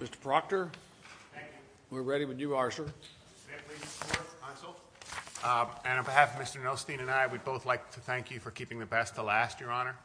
Mr. Proctor. Thank you. We're ready when you are, sir. And on behalf of Mr. Nelstein and I, we'd both like to thank you for keeping the best to last, Your Honor.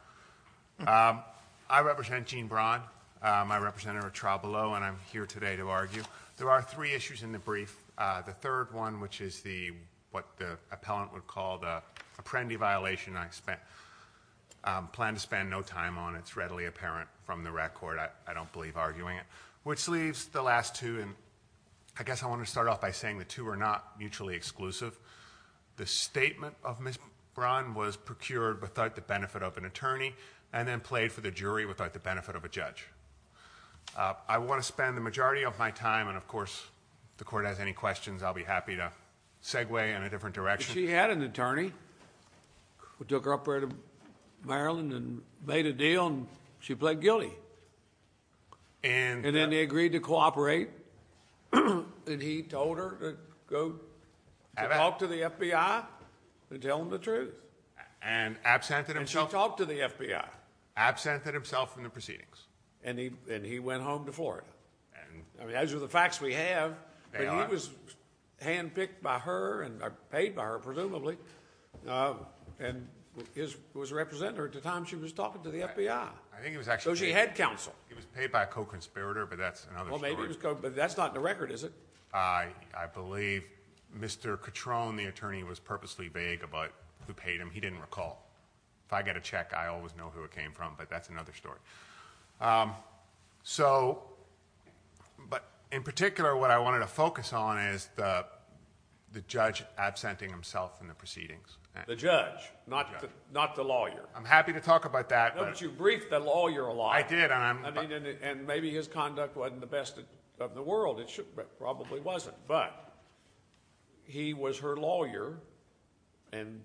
I represent Jean Brown. I represent her trial below, and I'm here today to argue. There are three issues in the brief. The third one, which is the what the appellant would call the apprendee violation. I plan to spend no time on it. It's readily apparent from the record. I don't believe arguing it. Which leaves the last two, and I guess I want to start off by saying the two are not mutually exclusive. The statement of Ms. Brown was procured without the benefit of an attorney, and then played for the jury without the benefit of a judge. I want to spend the majority of my time, and of course, if the Court has any questions, I'll be happy to segue in a different direction. She had an attorney who took her up there to Maryland and made a deal, and she pled guilty. And then they agreed to cooperate, and he told her to go talk to the FBI and tell them the truth. And absented himself. And she talked to the FBI. Absented himself from the proceedings. And he went home to Florida. I mean, those are the facts we have. But he was handpicked by her, or paid by her, presumably, and was a representative at the time she was talking to the FBI. So she had counsel. He was paid by a co-conspirator, but that's another story. But that's not in the record, is it? I believe Mr. Cutrone, the attorney, was purposely vague about who paid him. He didn't recall. If I get a check, I always know who it came from, but that's another story. But in particular, what I wanted to focus on is the judge absenting himself from the proceedings. The judge, not the lawyer. I'm happy to talk about that. But you briefed the lawyer a lot. I did. And maybe his conduct wasn't the best of the world. It probably wasn't. But he was her lawyer, and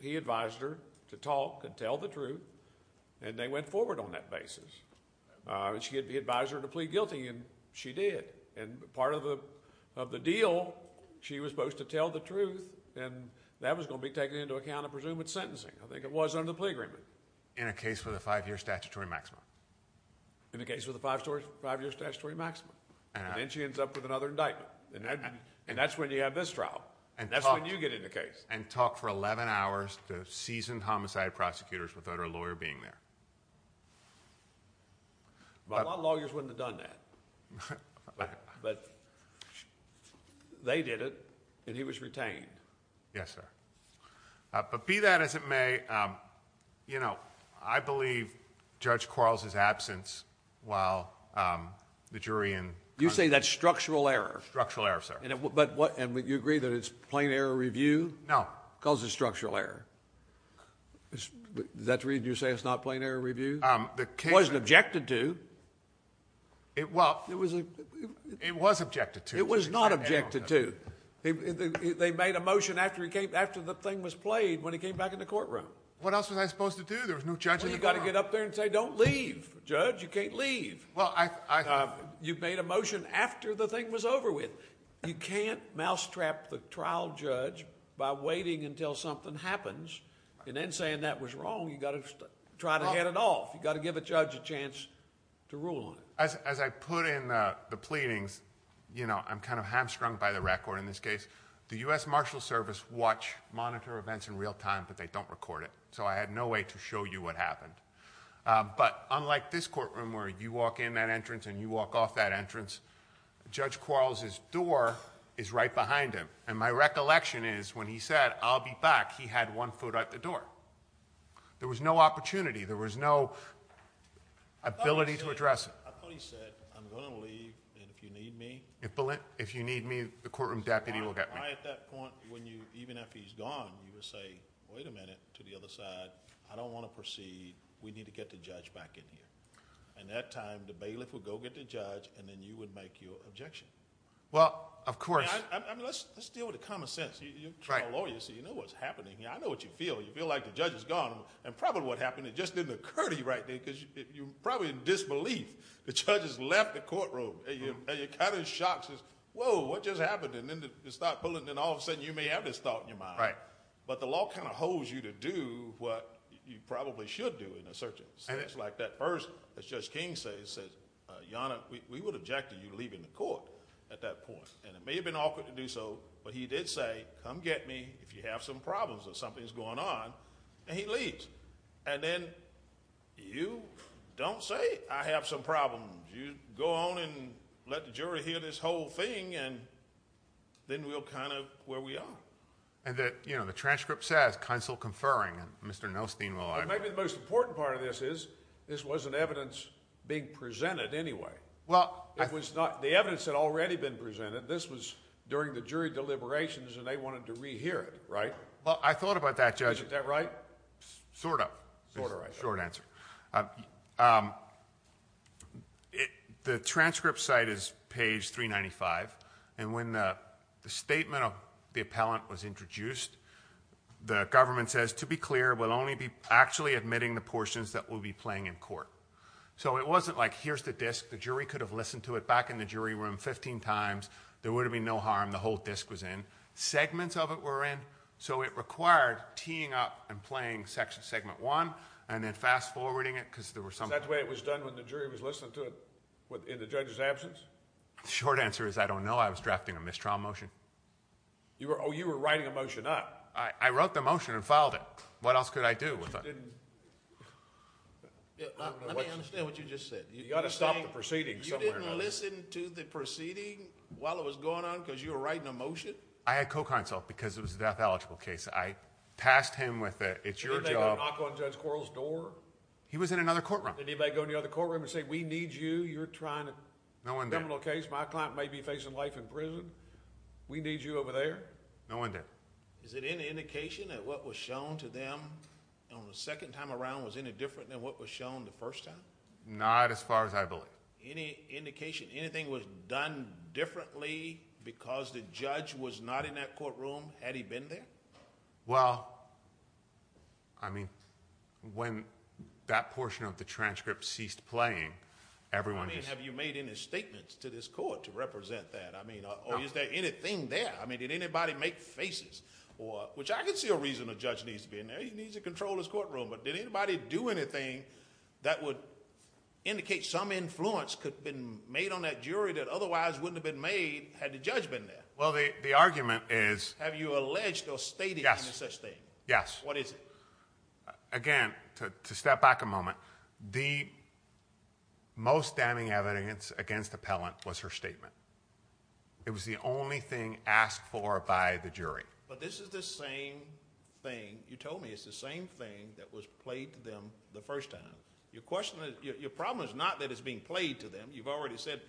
he advised her to talk and tell the truth, and they went forward on that basis. She advised her to plead guilty, and she did. And part of the deal, she was supposed to tell the truth, and that was going to be taken into account, I presume, with sentencing. I think it was under the plea agreement. In a case with a five-year statutory maximum. In a case with a five-year statutory maximum. And then she ends up with another indictment. And that's when you have this trial. And that's when you get in the case. And talk for 11 hours to seasoned homicide prosecutors without her lawyer being there. A lot of lawyers wouldn't have done that. But they did it, and he was retained. Yes, sir. But be that as it may, you know, I believe Judge Quarles's absence while the jury in. You say that's structural error. Structural error, sir. And would you agree that it's plain error review? No. Because it's structural error. Is that the reason you say it's not plain error review? It wasn't objected to. It was objected to. It was not objected to. They made a motion after the thing was played when he came back in the courtroom. What else was I supposed to do? There was no judge in the courtroom. Well, you've got to get up there and say, don't leave, judge. You can't leave. Well, I... You made a motion after the thing was over with. You can't mousetrap the trial judge by waiting until something happens. And then saying that was wrong, you've got to try to head it off. You've got to give a judge a chance to rule on it. As I put in the pleadings, you know, I'm kind of hamstrung by the record in this case. The U.S. Marshals Service watch, monitor events in real time, but they don't record it. So I had no way to show you what happened. But unlike this courtroom where you walk in that entrance and you walk off that entrance, Judge Quarles's door is right behind him. And my recollection is when he said, I'll be back, he had one foot at the door. There was no opportunity. There was no ability to address it. I thought he said, I'm going to leave, and if you need me... If you need me, the courtroom deputy will get me. At that point, even if he's gone, you would say, wait a minute, to the other side, I don't want to proceed. We need to get the judge back in here. And that time, the bailiff would go get the judge, and then you would make your objection. Well, of course... I mean, let's deal with the common sense. You're a trial lawyer, so you know what's happening here. I know what you feel. You feel like the judge is gone. And probably what happened, it just didn't occur to you right then, because you were probably in disbelief. The judge has left the courtroom, and you're kind of in shock. Whoa, what just happened? And then you start pulling, and all of a sudden, you may have this thought in your mind. But the law kind of holds you to do what you probably should do in a certain sense. Like that first, as Judge King says, Yonah, we would object to you leaving the court at that point. And it may have been awkward to do so, but he did say, come get me if you have some problems or something's going on, and he leaves. And then you don't say, I have some problems. You go on and let the jury hear this whole thing, and then we're kind of where we are. And the transcript says, counsel conferring, and Mr. Nelstein will argue... Well, maybe the most important part of this is this wasn't evidence being presented anyway. Well... The evidence had already been presented. This was during the jury deliberations, and they wanted to re-hear it, right? Well, I thought about that, Judge. Is that right? Sort of. Sort of, right. Short answer. The transcript site is page 395. And when the statement of the appellant was introduced, the government says, to be clear, we'll only be actually admitting the portions that will be playing in court. So it wasn't like, here's the disc. The jury could have listened to it back in the jury room 15 times. There would have been no harm. The whole disc was in. Segments of it were in. So it required teeing up and playing segment one, and then fast-forwarding it, because there were some... Is that the way it was done when the jury was listening to it in the judge's absence? The short answer is, I don't know. I was drafting a mistrial motion. Oh, you were writing a motion up. I wrote the motion and filed it. What else could I do with it? You didn't... Let me understand what you just said. You've got to stop the proceeding somewhere. You didn't listen to the proceeding while it was going on because you were writing a motion? I had co-counsel because it was a death-eligible case. I passed him with it. It's your job... Did anybody go knock on Judge Quarles' door? He was in another courtroom. Did anybody go in the other courtroom and say, we need you, you're trying to... No one did.... a criminal case. My client may be facing life in prison. We need you over there. No one did. Is it any indication that what was shown to them on the second time around was any different than what was shown the first time? Not as far as I believe. Any indication anything was done differently because the judge was not in that courtroom? Had he been there? Well, I mean, when that portion of the transcript ceased playing, everyone just... I mean, have you made any statements to this court to represent that? I mean, or is there anything there? I mean, did anybody make faces? Which I can see a reason a judge needs to be in there. He needs to control his courtroom. But did anybody do anything that would indicate some influence could have been made on that jury that otherwise wouldn't have been made had the judge been there? Well, the argument is... Have you alleged or stated any such thing? Yes. What is it? Again, to step back a moment, the most damning evidence against Appellant was her statement. It was the only thing asked for by the jury. But this is the same thing. You told me it's the same thing that was played to them the first time. Your question is... Your problem is not that it's being played to them. You've already said...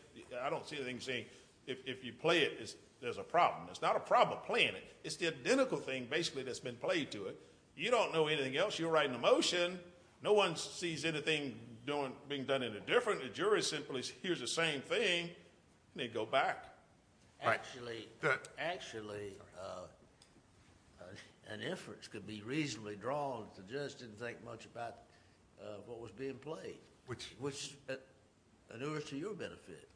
I don't see anything saying if you play it, there's a problem. It's not a problem playing it. It's the identical thing, basically, that's been played to it. You don't know anything else. You're writing a motion. No one sees anything being done any different. The jury simply hears the same thing and they go back. Actually, an inference could be reasonably drawn if the judge didn't think much about what was being played, which inures to your benefit.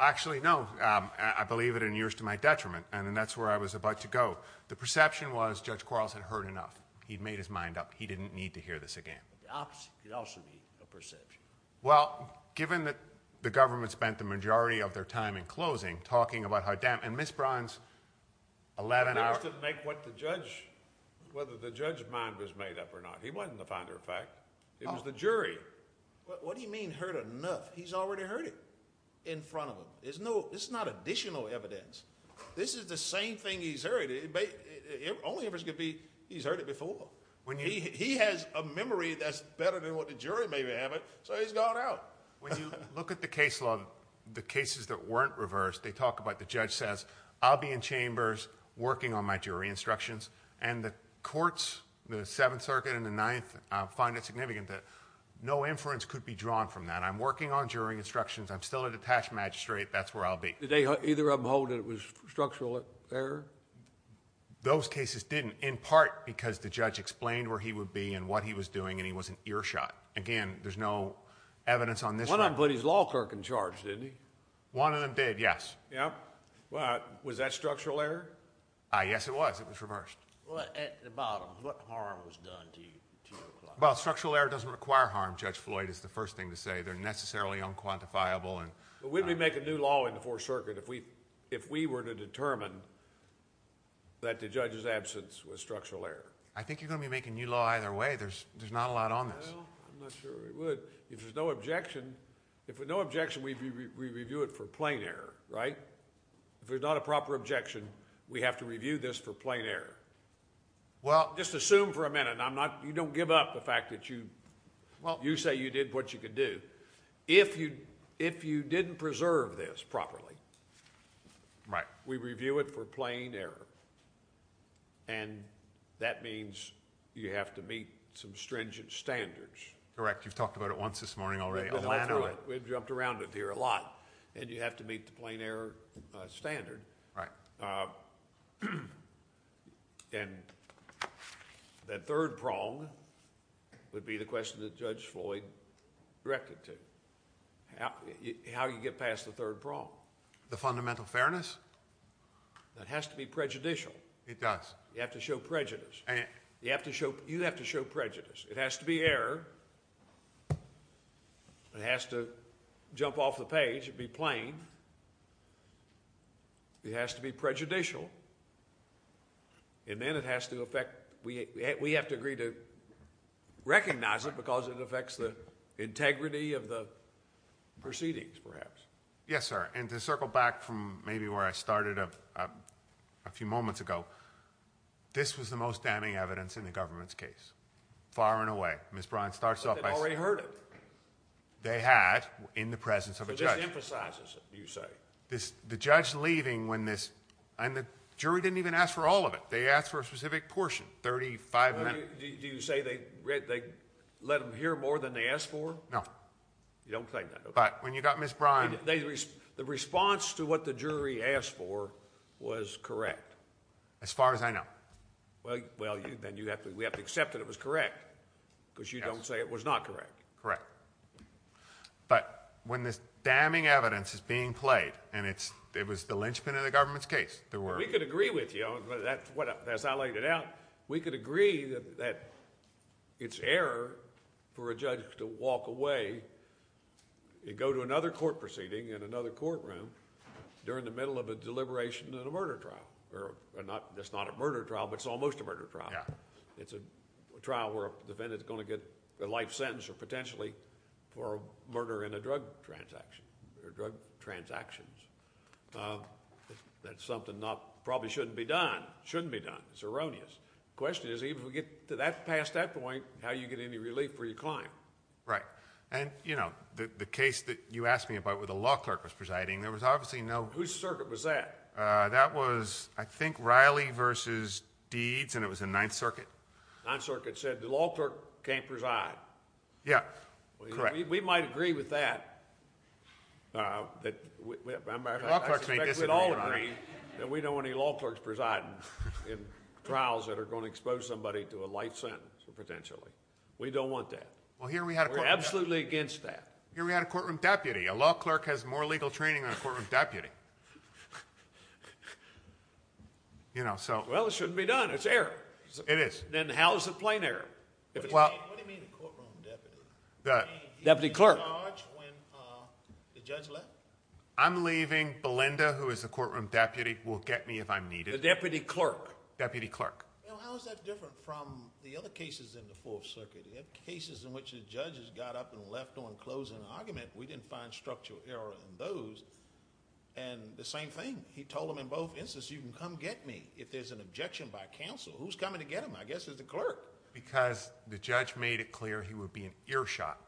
Actually, no. I believe it inures to my detriment, and that's where I was about to go. The perception was Judge Quarles had heard enough. He'd made his mind up. He didn't need to hear this again. The opposite could also be a perception. Well, given that the government spent the majority of their time in closing talking about... And Ms. Brown's 11-hour... It doesn't make what the judge... whether the judge's mind was made up or not. He wasn't the finder of fact. It was the jury. What do you mean heard enough? He's already heard it in front of him. This is not additional evidence. This is the same thing he's heard. The only inference could be he's heard it before. He has a memory that's better than what the jury may have it, so he's gone out. When you look at the case law, the cases that weren't reversed, they talk about... The judge says, I'll be in chambers working on my jury instructions. And the courts, the Seventh Circuit and the Ninth, find it significant that no inference could be drawn from that. I'm working on jury instructions. I'm still a detached magistrate. That's where I'll be. Did either of them hold that it was structural error? Those cases didn't, in part because the judge explained where he would be and what he was doing, and he wasn't earshot. Again, there's no evidence on this one. One of them put his law clerk in charge, didn't he? One of them did, yes. Was that structural error? Yes, it was. It was reversed. At the bottom, what harm was done to your client? Structural error doesn't require harm, Judge Floyd is the first thing to say. They're necessarily unquantifiable. We'd be making new law in the Fourth Circuit if we were to determine that the judge's absence was structural error. I think you're going to be making new law either way. There's not a lot on this. I'm not sure we would. If there's no objection, we review it for plain error, right? If there's not a proper objection, we have to review this for plain error. Just assume for a minute, you don't give up the fact that you say you did what you could do. If you didn't preserve this properly, we review it for plain error. That means you have to meet some stringent standards. Correct. You've talked about it once this morning already. We've jumped around it here a lot. You have to meet the plain error standard. Right. The third prong would be the question that Judge Floyd directed to. How do you get past the third prong? The fundamental fairness? That has to be prejudicial. It does. You have to show prejudice. You have to show prejudice. It has to be error. It has to jump off the page and be plain. It has to be prejudicial, and then it has to affect... We have to agree to recognize it because it affects the integrity of the proceedings, perhaps. Yes, sir. To circle back from maybe where I started a few moments ago, this was the most damning evidence in the government's case, far and away. Ms. Bryan starts off by... But they'd already heard it. They had in the presence of a judge. This emphasizes it, you say. The judge leaving when this... And the jury didn't even ask for all of it. They asked for a specific portion, 35 minutes. Do you say they let them hear more than they asked for? No. You don't say that, okay. But when you got Ms. Bryan... The response to what the jury asked for was correct. As far as I know. Well, then we have to accept that it was correct because you don't say it was not correct. Correct. But when this damning evidence is being played, and it was the linchpin of the government's case, there were... We could agree with you. As I laid it out, we could agree that it's error for a judge to walk away and go to another court proceeding in another courtroom during the middle of a deliberation in a murder trial. That's not a murder trial, but it's almost a murder trial. Yeah. It's a trial where a defendant is going to get a life sentence or potentially for a murder in a drug transaction or drug transactions. That's something that probably shouldn't be done. It shouldn't be done. It's erroneous. The question is, even if we get past that point, how do you get any relief for your client? Right. And, you know, the case that you asked me about where the law clerk was presiding, there was obviously no... Whose circuit was that? That was, I think, Riley v. Deeds, and it was in Ninth Circuit. Ninth Circuit said the law clerk can't preside. Yeah. Correct. We might agree with that. I suspect we'd all agree that we don't want any law clerks presiding in trials that are going to expose somebody to a life sentence potentially. We don't want that. Well, here we had a... We're absolutely against that. Here we had a courtroom deputy. A law clerk has more legal training than a courtroom deputy. You know, so... Well, it shouldn't be done. It's error. It is. Then how is it plain error? What do you mean a courtroom deputy? Deputy clerk. You mean he's in charge when the judge left? I'm leaving. Belinda, who is the courtroom deputy, will get me if I'm needed. The deputy clerk. Deputy clerk. Well, how is that different from the other cases in the Fourth Circuit? You have cases in which the judges got up and left on closing an argument. We didn't find structural error in those. And the same thing. He told them in both instances, you can come get me if there's an objection by counsel. Who's coming to get him? I guess it's the clerk. Because the judge made it clear he would be an earshot.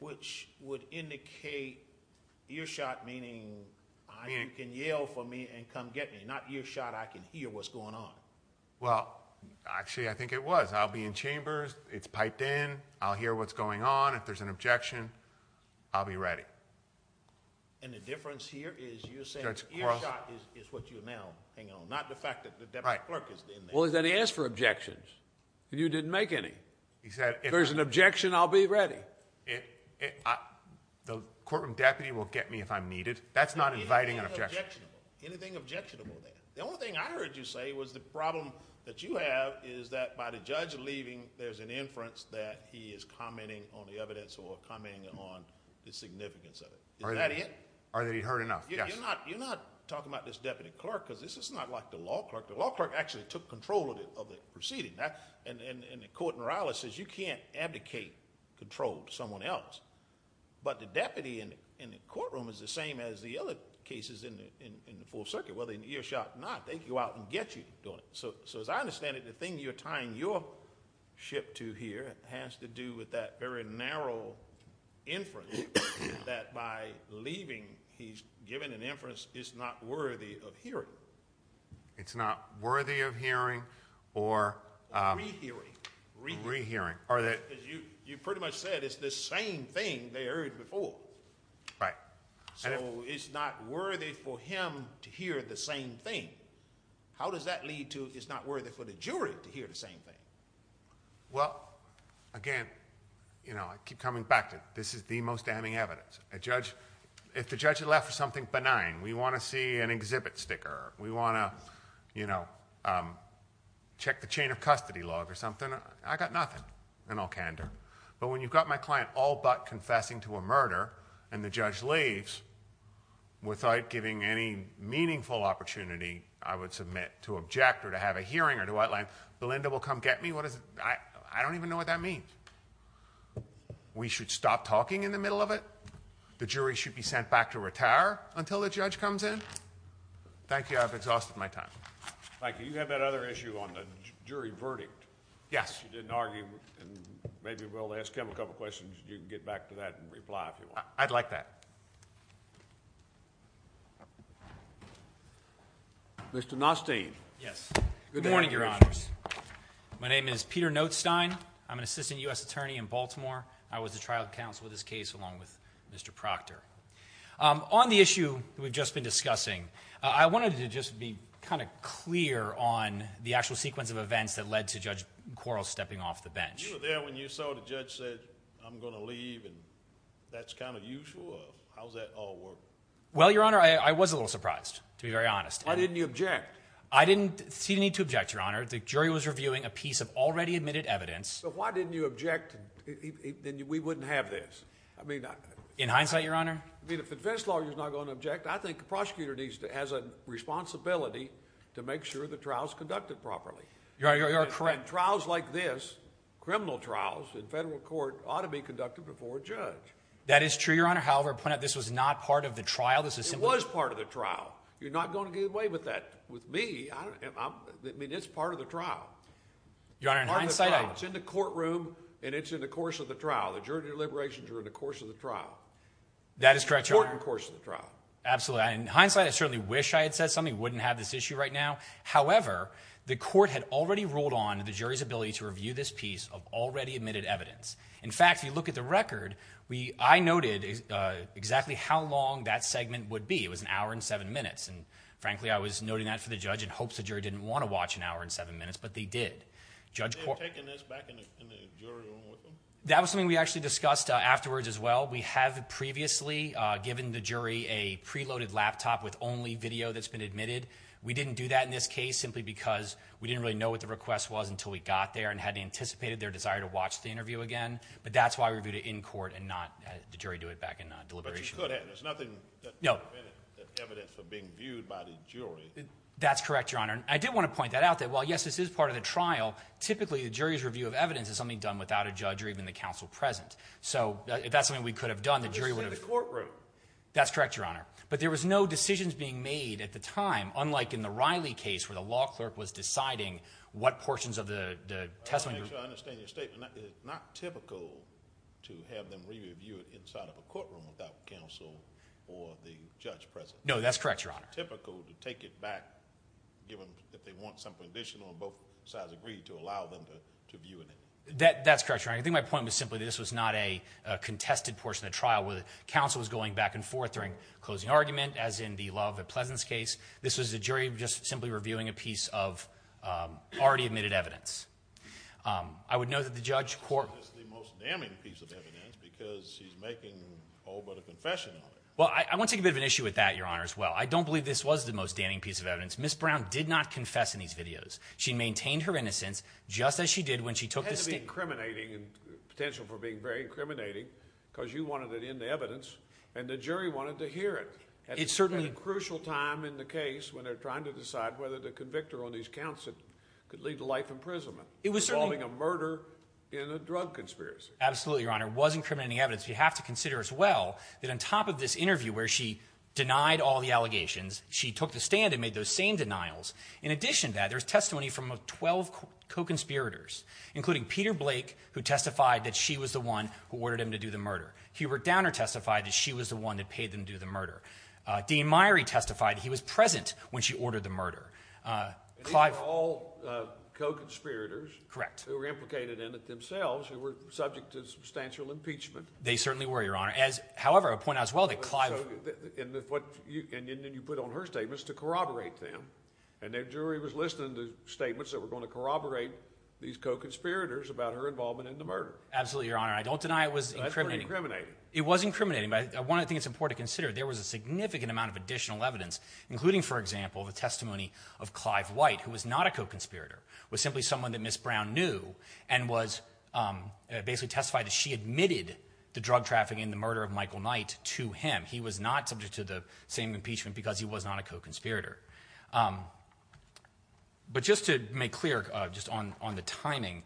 Which would indicate earshot meaning you can yell for me and come get me, not earshot I can hear what's going on. Well, actually, I think it was. I'll be in chambers. It's piped in. I'll hear what's going on. If there's an objection, I'll be ready. And the difference here is you're saying earshot is what you now hang on. Not the fact that the deputy clerk is in there. Well, then he asked for objections. And you didn't make any. If there's an objection, I'll be ready. The courtroom deputy will get me if I'm needed. That's not inviting an objection. Anything objectionable there. The only thing I heard you say was the problem that you have is that by the judge leaving, there's an inference that he is commenting on the evidence or commenting on the significance of it. Is that it? Or that he heard enough. Yes. You're not talking about this deputy clerk. Because this is not like the law clerk. The law clerk actually took control of the proceeding. And the court morale says you can't abdicate control to someone else. But the deputy in the courtroom is the same as the other cases in the full circuit. Whether in earshot or not, they go out and get you doing it. So as I understand it, the thing you're tying your ship to here has to do with that very narrow inference that by leaving, he's given an inference it's not worthy of hearing. It's not worthy of hearing or re-hearing. You pretty much said it's the same thing they heard before. Right. So it's not worthy for him to hear the same thing. How does that lead to it's not worthy for the jury to hear the same thing? Well, again, I keep coming back to this is the most damning evidence. If the judge had left for something benign, we want to see an exhibit sticker. We want to check the chain of custody log or something. I got nothing in all candor. But when you've got my client all but confessing to a murder and the judge leaves without giving any meaningful opportunity, I would submit to object or to have a hearing or to outline, Belinda will come get me? I don't even know what that means. We should stop talking in the middle of it? The jury should be sent back to retire until the judge comes in? Thank you. I've exhausted my time. Thank you. You have that other issue on the jury verdict. Yes. You didn't argue and maybe we'll ask him a couple questions. You can get back to that and reply if you want. I'd like that. Mr. Nostein. Yes. Good morning, Your Honors. My name is Peter Notestein. I'm an assistant U.S. attorney in Baltimore. I was the trial counsel in this case along with Mr. Proctor. On the issue we've just been discussing, I wanted to just be kind of clear on the actual sequence of events that led to Judge Quarles stepping off the bench. You were there when you saw the judge said, I'm going to leave, and that's kind of usual? How does that all work? Well, Your Honor, I was a little surprised, to be very honest. Why didn't you object? I didn't see the need to object, Your Honor. The jury was reviewing a piece of already admitted evidence. But why didn't you object and we wouldn't have this? In hindsight, Your Honor? If the defense lawyer is not going to object, I think the prosecutor has a responsibility to make sure the trial is conducted properly. You're correct. And trials like this, criminal trials in federal court, ought to be conducted before a judge. That is true, Your Honor. However, this was not part of the trial. It was part of the trial. You're not going to get away with that with me. I mean, it's part of the trial. Your Honor, in hindsight… It's in the courtroom and it's in the course of the trial. The jury deliberations are in the course of the trial. That is correct, Your Honor. It's important in the course of the trial. Absolutely. In hindsight, I certainly wish I had said something. I wouldn't have this issue right now. However, the court had already ruled on the jury's ability to review this piece of already admitted evidence. In fact, if you look at the record, I noted exactly how long that segment would be. It was an hour and seven minutes. And frankly, I was noting that for the judge in hopes the jury didn't want to watch an hour and seven minutes, but they did. Did they have taken this back in the jury room with them? That was something we actually discussed afterwards as well. We have previously given the jury a preloaded laptop with only video that's been admitted. We didn't do that in this case simply because we didn't really know what the request was until we got there and hadn't anticipated their desire to watch the interview again. But that's why we reviewed it in court and not had the jury do it back in deliberation. But you could have. There's nothing that would have prevented that evidence from being viewed by the jury. That's correct, Your Honor. And I did want to point that out that while, yes, this is part of the trial, typically the jury's review of evidence is something done without a judge or even the counsel present. So if that's something we could have done, the jury would have… But it's in the courtroom. That's correct, Your Honor. But there was no decisions being made at the time, unlike in the Riley case where the law clerk was deciding what portions of the testimony group… I'm not sure I understand your statement. It's not typical to have them re-review it inside of a courtroom without counsel or the judge present. No, that's correct, Your Honor. It's not typical to take it back if they want something additional and both sides agree to allow them to view it. That's correct, Your Honor. I think my point was simply this was not a contested portion of the trial where the counsel was going back and forth during closing argument, as in the Love and Pleasance case. This was the jury just simply reviewing a piece of already admitted evidence. I would note that the judge… This is the most damning piece of evidence because she's making all but a confession on it. Well, I want to take a bit of an issue with that, Your Honor, as well. I don't believe this was the most damning piece of evidence. Ms. Brown did not confess in these videos. She maintained her innocence just as she did when she took the stand. …potential for being very incriminating because you wanted it in the evidence and the jury wanted to hear it at a crucial time in the case when they're trying to decide whether the convictor on these counts could lead to life imprisonment, involving a murder in a drug conspiracy. Absolutely, Your Honor. It was incriminating evidence. You have to consider as well that on top of this interview where she denied all the allegations, she took the stand and made those same denials. In addition to that, there's testimony from 12 co-conspirators including Peter Blake, who testified that she was the one who ordered him to do the murder. Hubert Downer testified that she was the one that paid them to do the murder. Dean Meyrie testified he was present when she ordered the murder. These are all co-conspirators who were implicated in it themselves and were subject to substantial impeachment. They certainly were, Your Honor. However, I point out as well that Clive… And then you put on her statements to corroborate them. And the jury was listening to statements that were going to corroborate these co-conspirators about her involvement in the murder. Absolutely, Your Honor. I don't deny it was incriminating. That's pretty incriminating. It was incriminating, but I think it's important to consider there was a significant amount of additional evidence, including, for example, the testimony of Clive White, who was not a co-conspirator, was simply someone that Ms. Brown knew and was basically testified that she admitted the drug trafficking and the murder of Michael Knight to him. He was not subject to the same impeachment because he was not a co-conspirator. But just to make clear, just on the timing,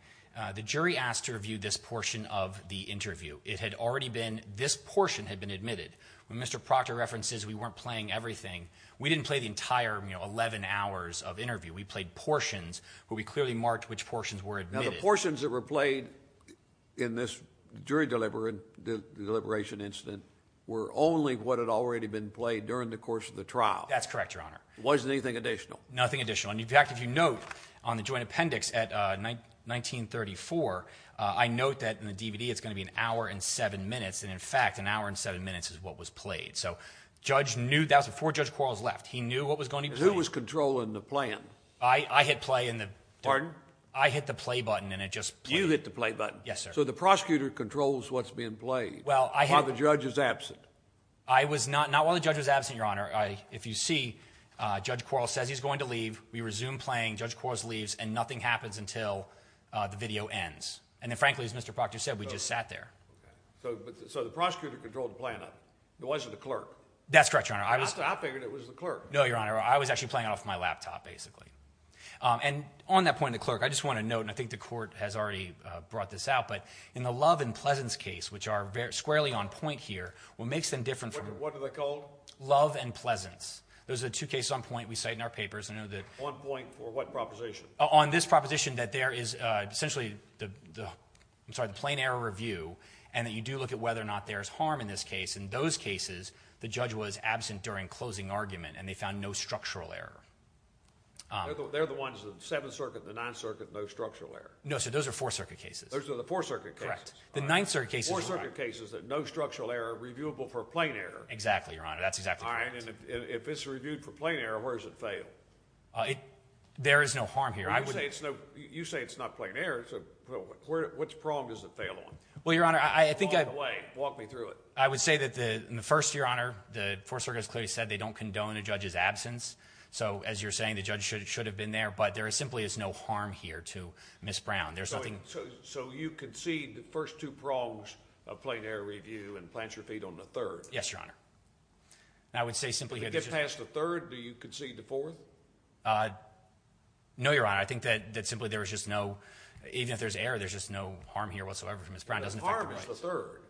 the jury asked to review this portion of the interview. It had already been—this portion had been admitted. When Mr. Proctor references we weren't playing everything, we didn't play the entire 11 hours of interview. We played portions, but we clearly marked which portions were admitted. Now, the portions that were played in this jury deliberation incident were only what had already been played during the course of the trial. That's correct, Your Honor. Wasn't anything additional? Nothing additional. In fact, if you note on the joint appendix at 1934, I note that in the DVD it's going to be an hour and seven minutes, and in fact an hour and seven minutes is what was played. So Judge knew—that was before Judge Quarles left. He knew what was going to be played. Who was controlling the playing? I hit play in the— Pardon? I hit the play button, and it just played. You hit the play button? Yes, sir. So the prosecutor controls what's being played while the judge is absent? I was not—not while the judge was absent, Your Honor. If you see, Judge Quarles says he's going to leave. We resume playing. Judge Quarles leaves, and nothing happens until the video ends. And then, frankly, as Mr. Proctor said, we just sat there. Okay. So the prosecutor controlled the playing. It wasn't the clerk. That's correct, Your Honor. I figured it was the clerk. No, Your Honor. I was actually playing it off my laptop, basically. And on that point, the clerk, I just want to note, and I think the court has already brought this out, but in the Love and Pleasance case, which are squarely on point here, what makes them different from— What are they called? Love and Pleasance. Those are the two cases on point we cite in our papers. I know that— On point for what proposition? On this proposition that there is essentially the—I'm sorry, the plain error review, and that you do look at whether or not there is harm in this case. In those cases, the judge was absent during closing argument, and they found no structural error. They're the ones, the Seventh Circuit, the Ninth Circuit, no structural error. No, sir. Those are Fourth Circuit cases. Those are the Fourth Circuit cases. Correct. The Ninth Circuit cases— The Fourth Circuit cases that no structural error, reviewable for plain error. Exactly, Your Honor. That's exactly correct. All right, and if it's reviewed for plain error, where does it fail? There is no harm here. You say it's not plain error. Which prong does it fail on? Well, Your Honor, I think I— Walk away. Walk me through it. I would say that in the first, Your Honor, the Fourth Circuit has clearly said they don't condone a judge's absence. So as you're saying, the judge should have been there, but there simply is no harm here to Ms. Brown. There's nothing— So you concede the first two prongs of plain error review and plant your feet on the third? Yes, Your Honor. And I would say simply— If you get past the third, do you concede the fourth? No, Your Honor. I think that simply there is just no—even if there's error, there's just no harm here whatsoever to Ms. Brown. It doesn't affect her rights. The harm is the third.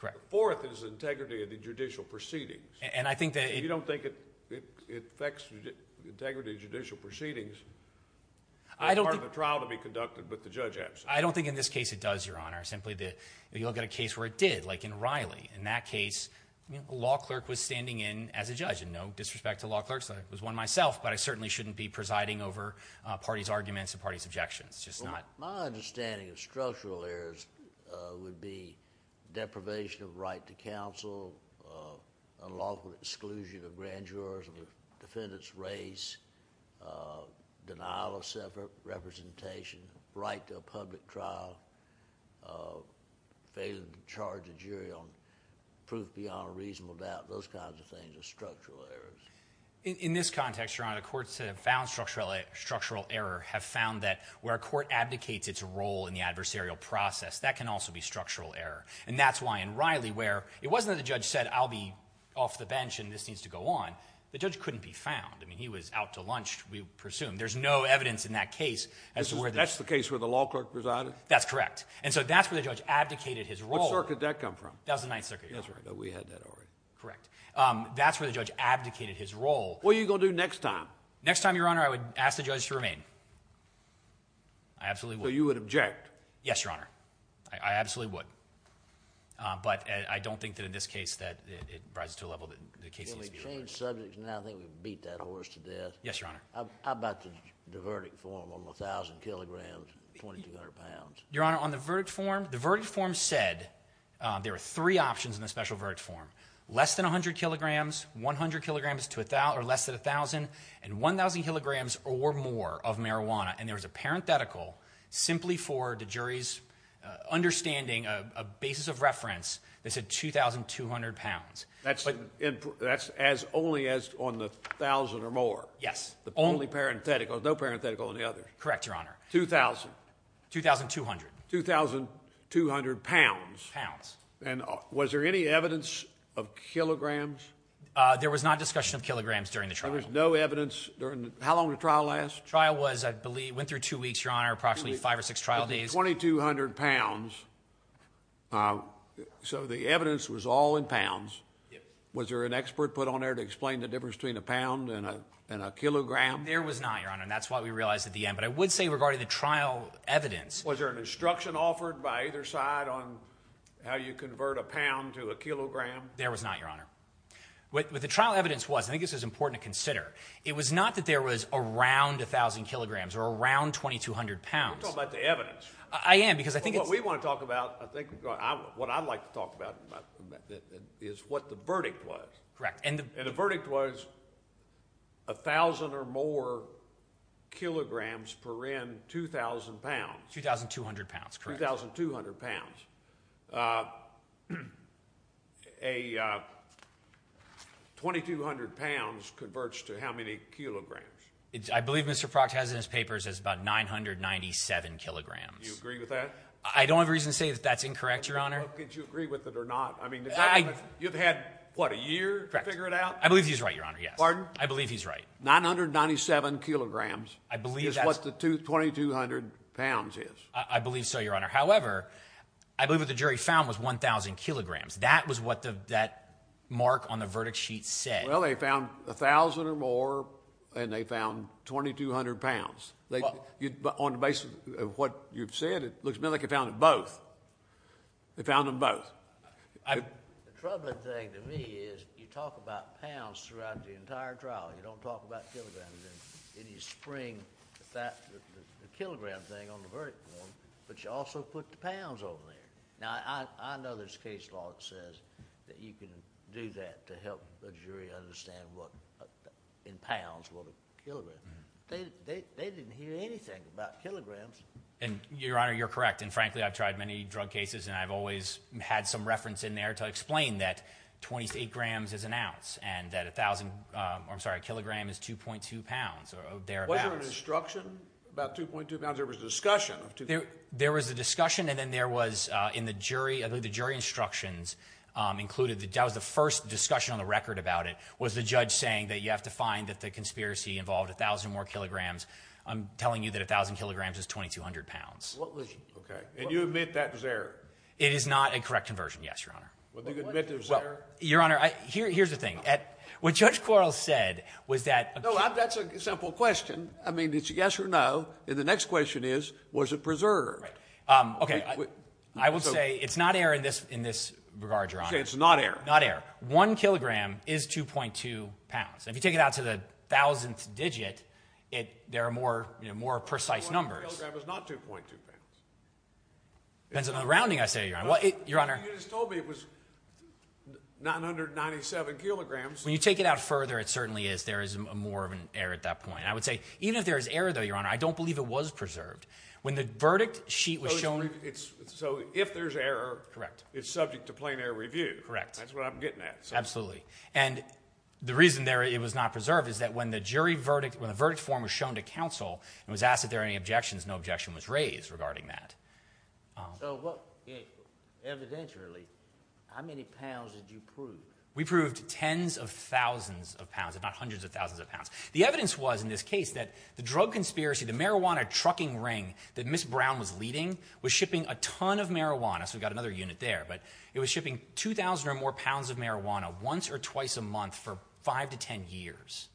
Correct. The fourth is integrity of the judicial proceedings. And I think that— You don't think it affects integrity of judicial proceedings? I don't think— It's part of the trial to be conducted, but the judge absent. I don't think in this case it does, Your Honor. Simply that you look at a case where it did, like in Riley. In that case, a law clerk was standing in as a judge. And no disrespect to law clerks, I was one myself, but I certainly shouldn't be presiding over a party's arguments and party's objections. It's just not— My understanding of structural errors would be deprivation of right to counsel, unlawful exclusion of grand jurors of the defendant's race, denial of self-representation, right to a public trial, failing to charge a jury on proof beyond a reasonable doubt, those kinds of things are structural errors. In this context, Your Honor, the courts that have found structural error have found that where a court abdicates its role in the adversarial process, that can also be structural error. And that's why in Riley, where it wasn't that the judge said, I'll be off the bench and this needs to go on. The judge couldn't be found. I mean, he was out to lunch, we presume. There's no evidence in that case as to where— That's the case where the law clerk presided? That's correct. And so that's where the judge abdicated his role. What circuit did that come from? That was the Ninth Circuit, Your Honor. That's right. We had that already. Correct. That's where the judge abdicated his role. What are you going to do next time? Next time, Your Honor, I would ask the judge to remain. I absolutely would. So you would object? Yes, Your Honor. I absolutely would. But I don't think that in this case that it rises to a level that the case needs to be— Can we change subjects now? I think we've beat that horse to death. Yes, Your Honor. How about the verdict form on 1,000 kilograms and 2,200 pounds? Your Honor, on the verdict form, the verdict form said there were three options in the special verdict form. Less than 100 kilograms, 100 kilograms to less than 1,000, and 1,000 kilograms or more of marijuana. And there was a parenthetical simply for the jury's understanding, a basis of reference that said 2,200 pounds. That's as only as on the 1,000 or more? Yes. Only parenthetical, no parenthetical on the other? Correct, Your Honor. 2,000? 2,200. 2,200 pounds? Pounds. And was there any evidence of kilograms? There was not discussion of kilograms during the trial. There was no evidence during the—how long did the trial last? The trial was, I believe, went through two weeks, Your Honor, approximately five or six trial days. 2,200 pounds. So the evidence was all in pounds. Yes. Was there an expert put on there to explain the difference between a pound and a kilogram? There was not, Your Honor, and that's what we realized at the end. But I would say regarding the trial evidence— Was there an instruction offered by either side on how you convert a pound to a kilogram? There was not, Your Honor. But the trial evidence was—I think this is important to consider. It was not that there was around 1,000 kilograms or around 2,200 pounds. We're talking about the evidence. I am because I think it's— What we want to talk about, I think—what I'd like to talk about is what the verdict was. Correct. And the verdict was 1,000 or more kilograms per end, 2,000 pounds. 2,200 pounds, correct. 2,200 pounds. 2,200 pounds converts to how many kilograms? I believe Mr. Proctor has it in his papers as about 997 kilograms. You agree with that? I don't have reason to say that that's incorrect, Your Honor. Could you agree with it or not? I mean, you've had, what, a year to figure it out? Correct. I believe he's right, Your Honor, yes. Pardon? I believe he's right. 997 kilograms is what the 2,200 pounds is. I believe so, Your Honor. However, I believe what the jury found was 1,000 kilograms. That was what that mark on the verdict sheet said. Well, they found 1,000 or more, and they found 2,200 pounds. On the basis of what you've said, it looks to me like they found both. They found them both. The troubling thing to me is you talk about pounds throughout the entire trial. You don't talk about kilograms. And you spring the kilogram thing on the verdict form, but you also put the pounds over there. Now, I know there's a case law that says that you can do that to help the jury understand what, in pounds, what a kilogram is. They didn't hear anything about kilograms. And, Your Honor, you're correct. And, frankly, I've tried many drug cases, and I've always had some reference in there to explain that 28 grams is an ounce, and that 1,000, or I'm sorry, a kilogram is 2.2 pounds or thereabouts. Wasn't there an instruction about 2.2 pounds? There was a discussion of 2.2 pounds. There was a discussion, and then there was, in the jury, I believe the jury instructions included, that was the first discussion on the record about it, was the judge saying that you have to find that the conspiracy involved 1,000 more kilograms. I'm telling you that 1,000 kilograms is 2,200 pounds. Okay. And you admit that was error? It is not a correct conversion, yes, Your Honor. Well, do you admit that it was error? Well, Your Honor, here's the thing. What Judge Quarles said was that- No, that's a simple question. I mean, it's a yes or no, and the next question is, was it preserved? Okay. I will say it's not error in this regard, Your Honor. You say it's not error. Not error. You say that 1 kilogram is 2.2 pounds. If you take it out to the thousandth digit, there are more precise numbers. 1 kilogram is not 2.2 pounds. It depends on the rounding, I say, Your Honor. You just told me it was 997 kilograms. When you take it out further, it certainly is there is more of an error at that point. I would say even if there is error, though, Your Honor, I don't believe it was preserved. When the verdict sheet was shown- So if there's error, it's subject to plain error review. That's what I'm getting at. Absolutely. And the reason it was not preserved is that when the verdict form was shown to counsel and was asked if there were any objections, no objection was raised regarding that. So evidentially, how many pounds did you prove? We proved tens of thousands of pounds, if not hundreds of thousands of pounds. The evidence was in this case that the drug conspiracy, the marijuana trucking ring that Ms. Brown was leading, was shipping a ton of marijuana. So we've got another unit there. But it was shipping 2,000 or more pounds of marijuana once or twice a month for 5 to 10 years.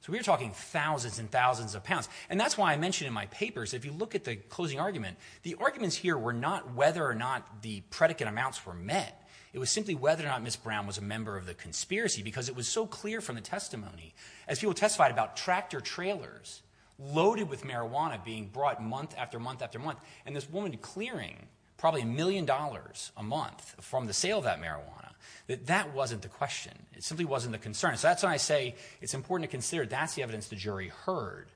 So we're talking thousands and thousands of pounds. And that's why I mentioned in my papers, if you look at the closing argument, the arguments here were not whether or not the predicate amounts were met. It was simply whether or not Ms. Brown was a member of the conspiracy because it was so clear from the testimony. As people testified about tractor trailers loaded with marijuana being brought month after month after month, and this woman clearing probably a million dollars a month from the sale of that marijuana, that that wasn't the question. It simply wasn't the concern. So that's why I say it's important to consider that's the evidence the jury heard.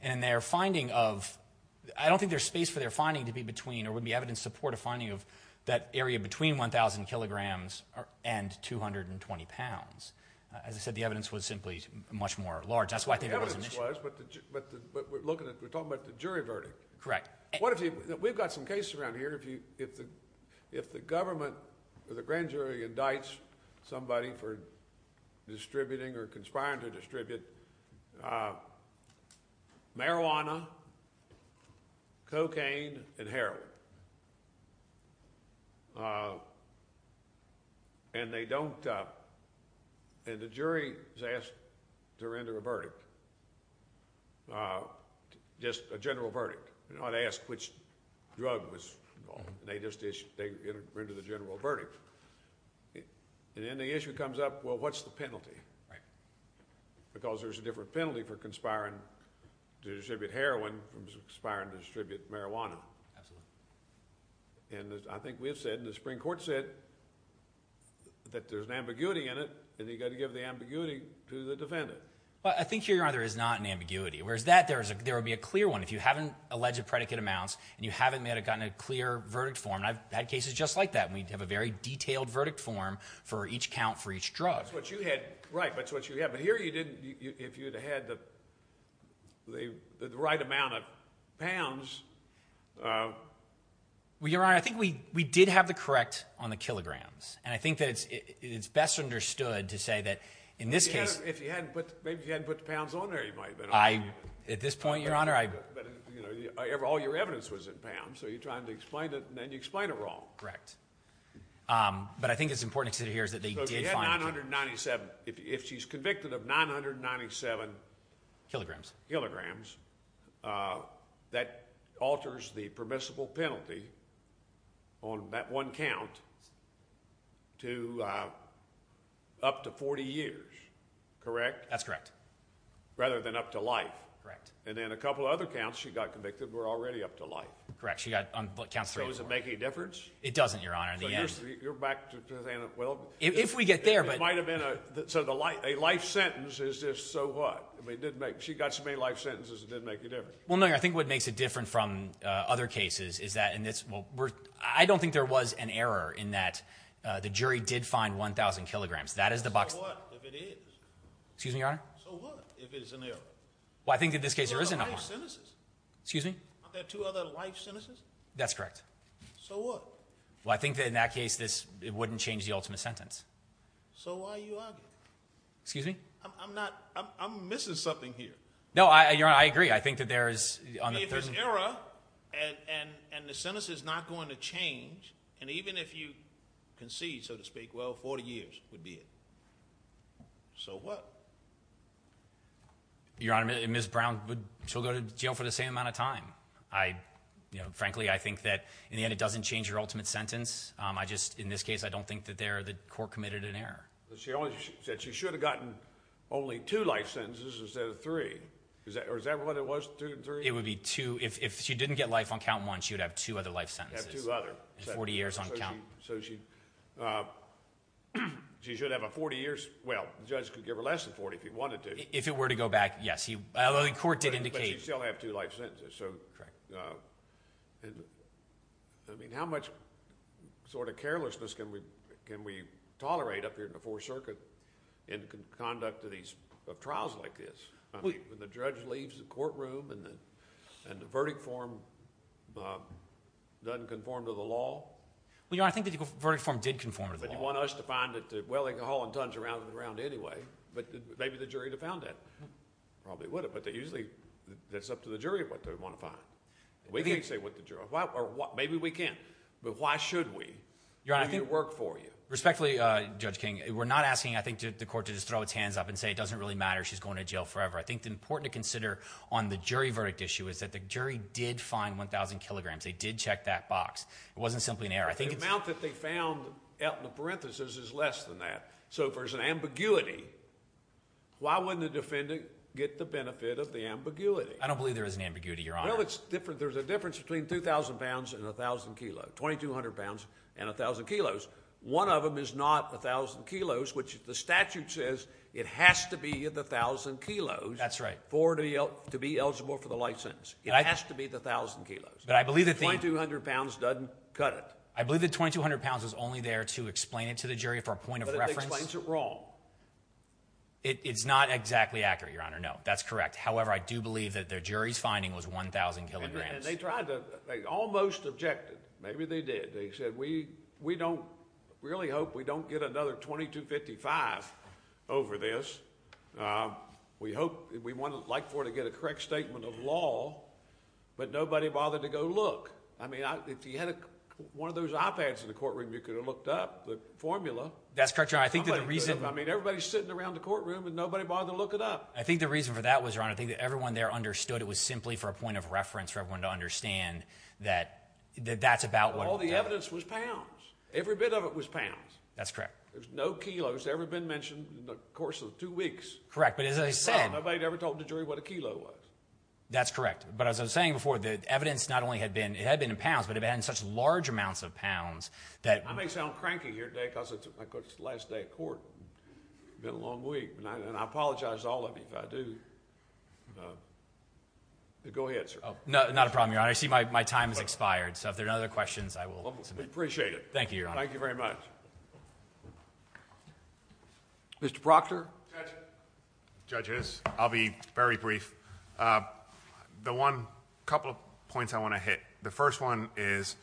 And their finding of, I don't think there's space for their finding to be between or would be evidence to support a finding of that area between 1,000 kilograms and 220 pounds. As I said, the evidence was simply much more large. That's why I think there was an issue. The evidence was, but we're talking about the jury verdict. Correct. We've got some cases around here. If the government or the grand jury indicts somebody for distributing or conspiring to distribute marijuana, cocaine, and heroin, and they don't, and the jury is asked to render a verdict, just a general verdict. You're not asked which drug was, they just issue, they render the general verdict. And then the issue comes up, well, what's the penalty? Right. Because there's a different penalty for conspiring to distribute heroin from conspiring to distribute marijuana. Absolutely. And I think we have said, and the Supreme Court said, that there's an ambiguity in it, and you've got to give the ambiguity to the defendant. Well, I think, Your Honor, there is not an ambiguity. Whereas that, there would be a clear one. If you haven't alleged predicate amounts and you haven't gotten a clear verdict form, and I've had cases just like that, and we have a very detailed verdict form for each count for each drug. That's what you had. Right, that's what you had. But here you didn't, if you'd had the right amount of pounds. Well, Your Honor, I think we did have the correct on the kilograms, and I think that it's best understood to say that in this case. If you hadn't, maybe you hadn't put the pounds on there, you might have been able to. At this point, Your Honor, I. All your evidence was in pounds, so you're trying to explain it, and then you explain it wrong. Correct. But I think it's important to hear is that they did find pounds. So if you had 997, if she's convicted of 997. Kilograms. That alters the permissible penalty on that one count to up to 40 years, correct? That's correct. Rather than up to life. Correct. And then a couple of other counts she got convicted were already up to life. Correct. She got on counts three and four. So does it make any difference? It doesn't, Your Honor. So you're back to saying that, well. If we get there, but. It might have been a, so a life sentence is just so what? I mean, it did make, she got so many life sentences, it did make a difference. Well, no, Your Honor. I think what makes it different from other cases is that in this, well, we're, I don't think there was an error in that the jury did find 1,000 kilograms. That is the box. So what if it is? Excuse me, Your Honor? So what if it is an error? Well, I think in this case there is an error. There are life sentences. Excuse me? Aren't there two other life sentences? That's correct. So what? Well, I think that in that case, this, it wouldn't change the ultimate sentence. So why are you arguing? Excuse me? I'm not, I'm missing something here. No, Your Honor, I agree. I think that there is. I mean, if there's error, and the sentence is not going to change, and even if you concede, so to speak, well, 40 years would be it. So what? Your Honor, Ms. Brown, she'll go to jail for the same amount of time. I, you know, frankly, I think that in the end it doesn't change your ultimate sentence. I just, in this case, I don't think that there, the court committed an error. She said she should have gotten only two life sentences instead of three. Or is that what it was, two and three? It would be two. If she didn't get life on count one, she would have two other life sentences. Two other. 40 years on count. So she should have a 40 years, well, the judge could give her less than 40 if he wanted to. If it were to go back, yes. Although the court did indicate. But she'd still have two life sentences. Correct. And, I mean, how much sort of carelessness can we tolerate up here in the Fourth Circuit in conduct of these, of trials like this? I mean, when the judge leaves the courtroom and the verdict form doesn't conform to the law. Well, Your Honor, I think the verdict form did conform to the law. But you want us to find it, well, they can haul in tons around and around anyway. But maybe the jury would have found that. Probably would have. But they usually, that's up to the jury what they want to find. We can't say what the jury, or maybe we can. But why should we do the work for you? Respectfully, Judge King, we're not asking, I think, the court to just throw its hands up and say it doesn't really matter, she's going to jail forever. I think the important to consider on the jury verdict issue is that the jury did find 1,000 kilograms. They did check that box. It wasn't simply an error. The amount that they found out in the parentheses is less than that. So if there's an ambiguity, why wouldn't the defendant get the benefit of the ambiguity? I don't believe there is an ambiguity, Your Honor. Well, there's a difference between 2,000 pounds and 1,000 kilos, 2,200 pounds and 1,000 kilos. One of them is not 1,000 kilos, which the statute says it has to be the 1,000 kilos to be eligible for the license. It has to be the 1,000 kilos. 2,200 pounds doesn't cut it. I believe the 2,200 pounds was only there to explain it to the jury for a point of reference. But it explains it wrong. It's not exactly accurate, Your Honor, no. That's correct. However, I do believe that the jury's finding was 1,000 kilograms. They tried to, they almost objected. Maybe they did. They said, we don't, we really hope we don't get another 2,255 over this. We hope, we'd like for it to get a correct statement of law, but nobody bothered to go look. I mean, if you had one of those iPads in the courtroom, you could have looked up the formula. That's correct, Your Honor. I think that the reason— I mean, everybody's sitting around the courtroom, and nobody bothered to look it up. I think the reason for that was, Your Honor, I think that everyone there understood it was simply for a point of reference for everyone to understand that that's about what— All the evidence was pounds. Every bit of it was pounds. That's correct. There's no kilos that's ever been mentioned in the course of two weeks. Correct, but as I said— Nobody ever told the jury what a kilo was. That's correct. But as I was saying before, the evidence not only had been—it had been in pounds, but it had been in such large amounts of pounds that— I may sound cranky here today because it's the last day of court. It's been a long week, and I apologize to all of you if I do. Go ahead, sir. Not a problem, Your Honor. I see my time has expired, so if there are no other questions, I will submit. We appreciate it. Thank you, Your Honor. Thank you very much. Mr. Proctor. Judge. Judges, I'll be very brief. The one—a couple of points I want to hit. The first one is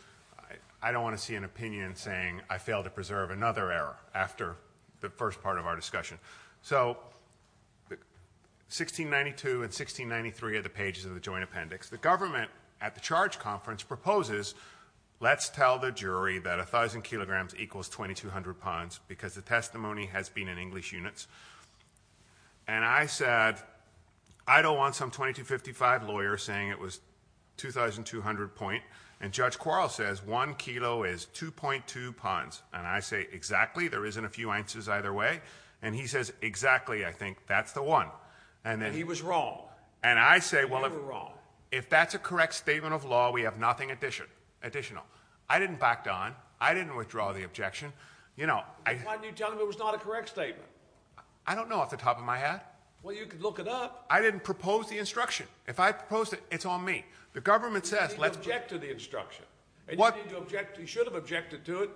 I don't want to see an opinion saying I failed to preserve another error after the first part of our discussion. So 1692 and 1693 are the pages of the joint appendix. The government at the charge conference proposes let's tell the jury that 1,000 kilograms equals 2,200 pounds because the testimony has been in English units. And I said I don't want some 2255 lawyer saying it was 2,200 point, and Judge Quarles says 1 kilo is 2.2 pounds. And I say exactly. There isn't a few answers either way. And he says exactly. I think that's the one. And he was wrong. And I say— You were wrong. If that's a correct statement of law, we have nothing additional. I didn't back down. I didn't withdraw the objection. Why didn't you tell him it was not a correct statement? I don't know off the top of my head. Well, you could look it up. I didn't propose the instruction. If I proposed it, it's on me. The government says let's— You should have objected to the instruction. You should have objected to it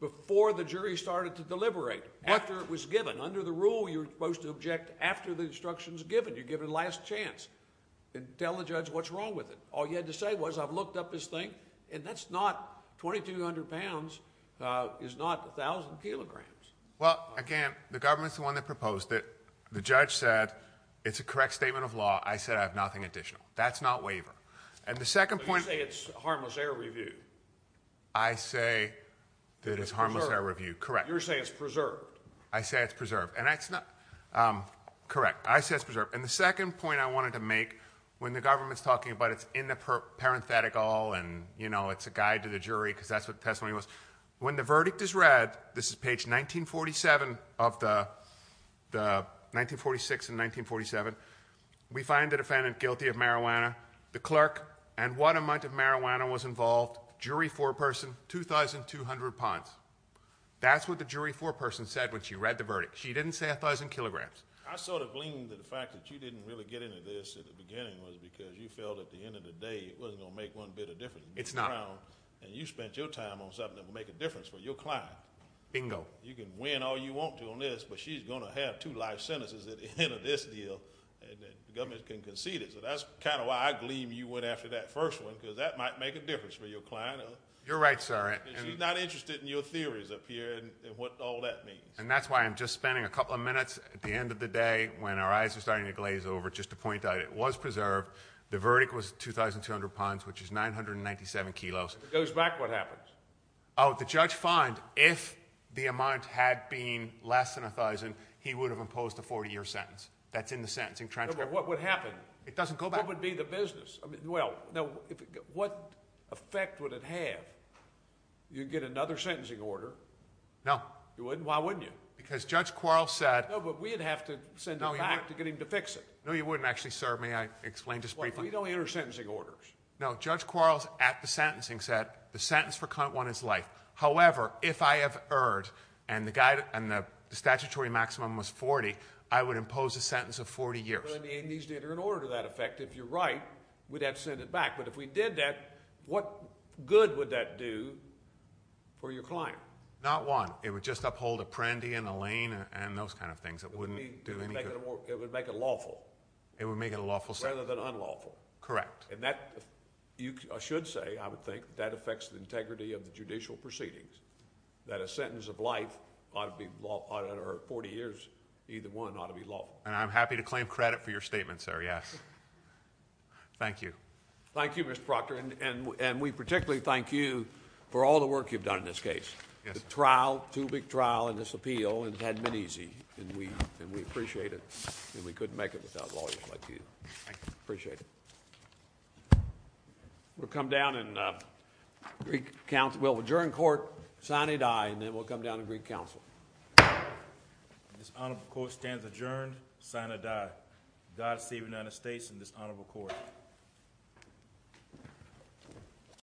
before the jury started to deliberate, after it was given. Under the rule, you're supposed to object after the instruction is given. You give it a last chance and tell the judge what's wrong with it. All you had to say was I've looked up this thing, and that's not—2,200 pounds is not 1,000 kilograms. Well, again, the government's the one that proposed it. The judge said it's a correct statement of law. I said I have nothing additional. That's not waiver. And the second point— But you say it's harmless air review. I say that it's harmless air review. Correct. You're saying it's preserved. I say it's preserved. And that's not—correct. I say it's preserved. And the second point I wanted to make, when the government's talking about it's in the parenthetical and, you know, it's a guide to the jury because that's what the testimony was, when the verdict is read, this is page 1947 of the—1946 and 1947, we find the defendant guilty of marijuana, the clerk, and what amount of marijuana was involved, jury foreperson, 2,200 pounds. That's what the jury foreperson said when she read the verdict. She didn't say 1,000 kilograms. I sort of gleaned that the fact that you didn't really get into this at the beginning was because you felt at the end of the day it wasn't going to make one bit of difference. It's not. And you spent your time on something that would make a difference for your client. Bingo. You can win all you want to on this, but she's going to have two life sentences at the end of this deal, and the government can concede it. So that's kind of why I gleaned you went after that first one because that might make a difference for your client. You're right, sir. She's not interested in your theories up here and what all that means. And that's why I'm just spending a couple of minutes at the end of the day when our eyes are starting to glaze over just to point out it was preserved. The verdict was 2,200 pounds, which is 997 kilos. If it goes back, what happens? Oh, the judge finds if the amount had been less than 1,000, he would have imposed a 40-year sentence. That's in the sentencing transcript. But what would happen? It doesn't go back. What would be the business? Well, what effect would it have? You'd get another sentencing order. No. You wouldn't? Why wouldn't you? Because Judge Quarles said— No, you wouldn't actually, sir. May I explain just briefly? Well, you don't enter sentencing orders. No. Judge Quarles at the sentencing said the sentence for count one is life. However, if I have erred and the statutory maximum was 40, I would impose a sentence of 40 years. Well, it needs to enter an order to that effect. If you're right, we'd have to send it back. But if we did that, what good would that do for your client? Not one. It would just uphold Apprendi and Allain and those kind of things. It wouldn't do any good. It would make it lawful. It would make it lawful. Rather than unlawful. Correct. You should say, I would think, that affects the integrity of the judicial proceedings, that a sentence of life or 40 years, either one ought to be lawful. And I'm happy to claim credit for your statement, sir, yes. Thank you. Thank you, Mr. Proctor. And we particularly thank you for all the work you've done in this case. The trial, too big trial in this appeal, and it hadn't been easy. And we appreciate it. And we couldn't make it without lawyers like you. Thank you. Appreciate it. We'll come down and Greek Council, well, adjourn court, sign a die, and then we'll come down to Greek Council. This honorable court stands adjourned, sign a die. God save the United States and this honorable court.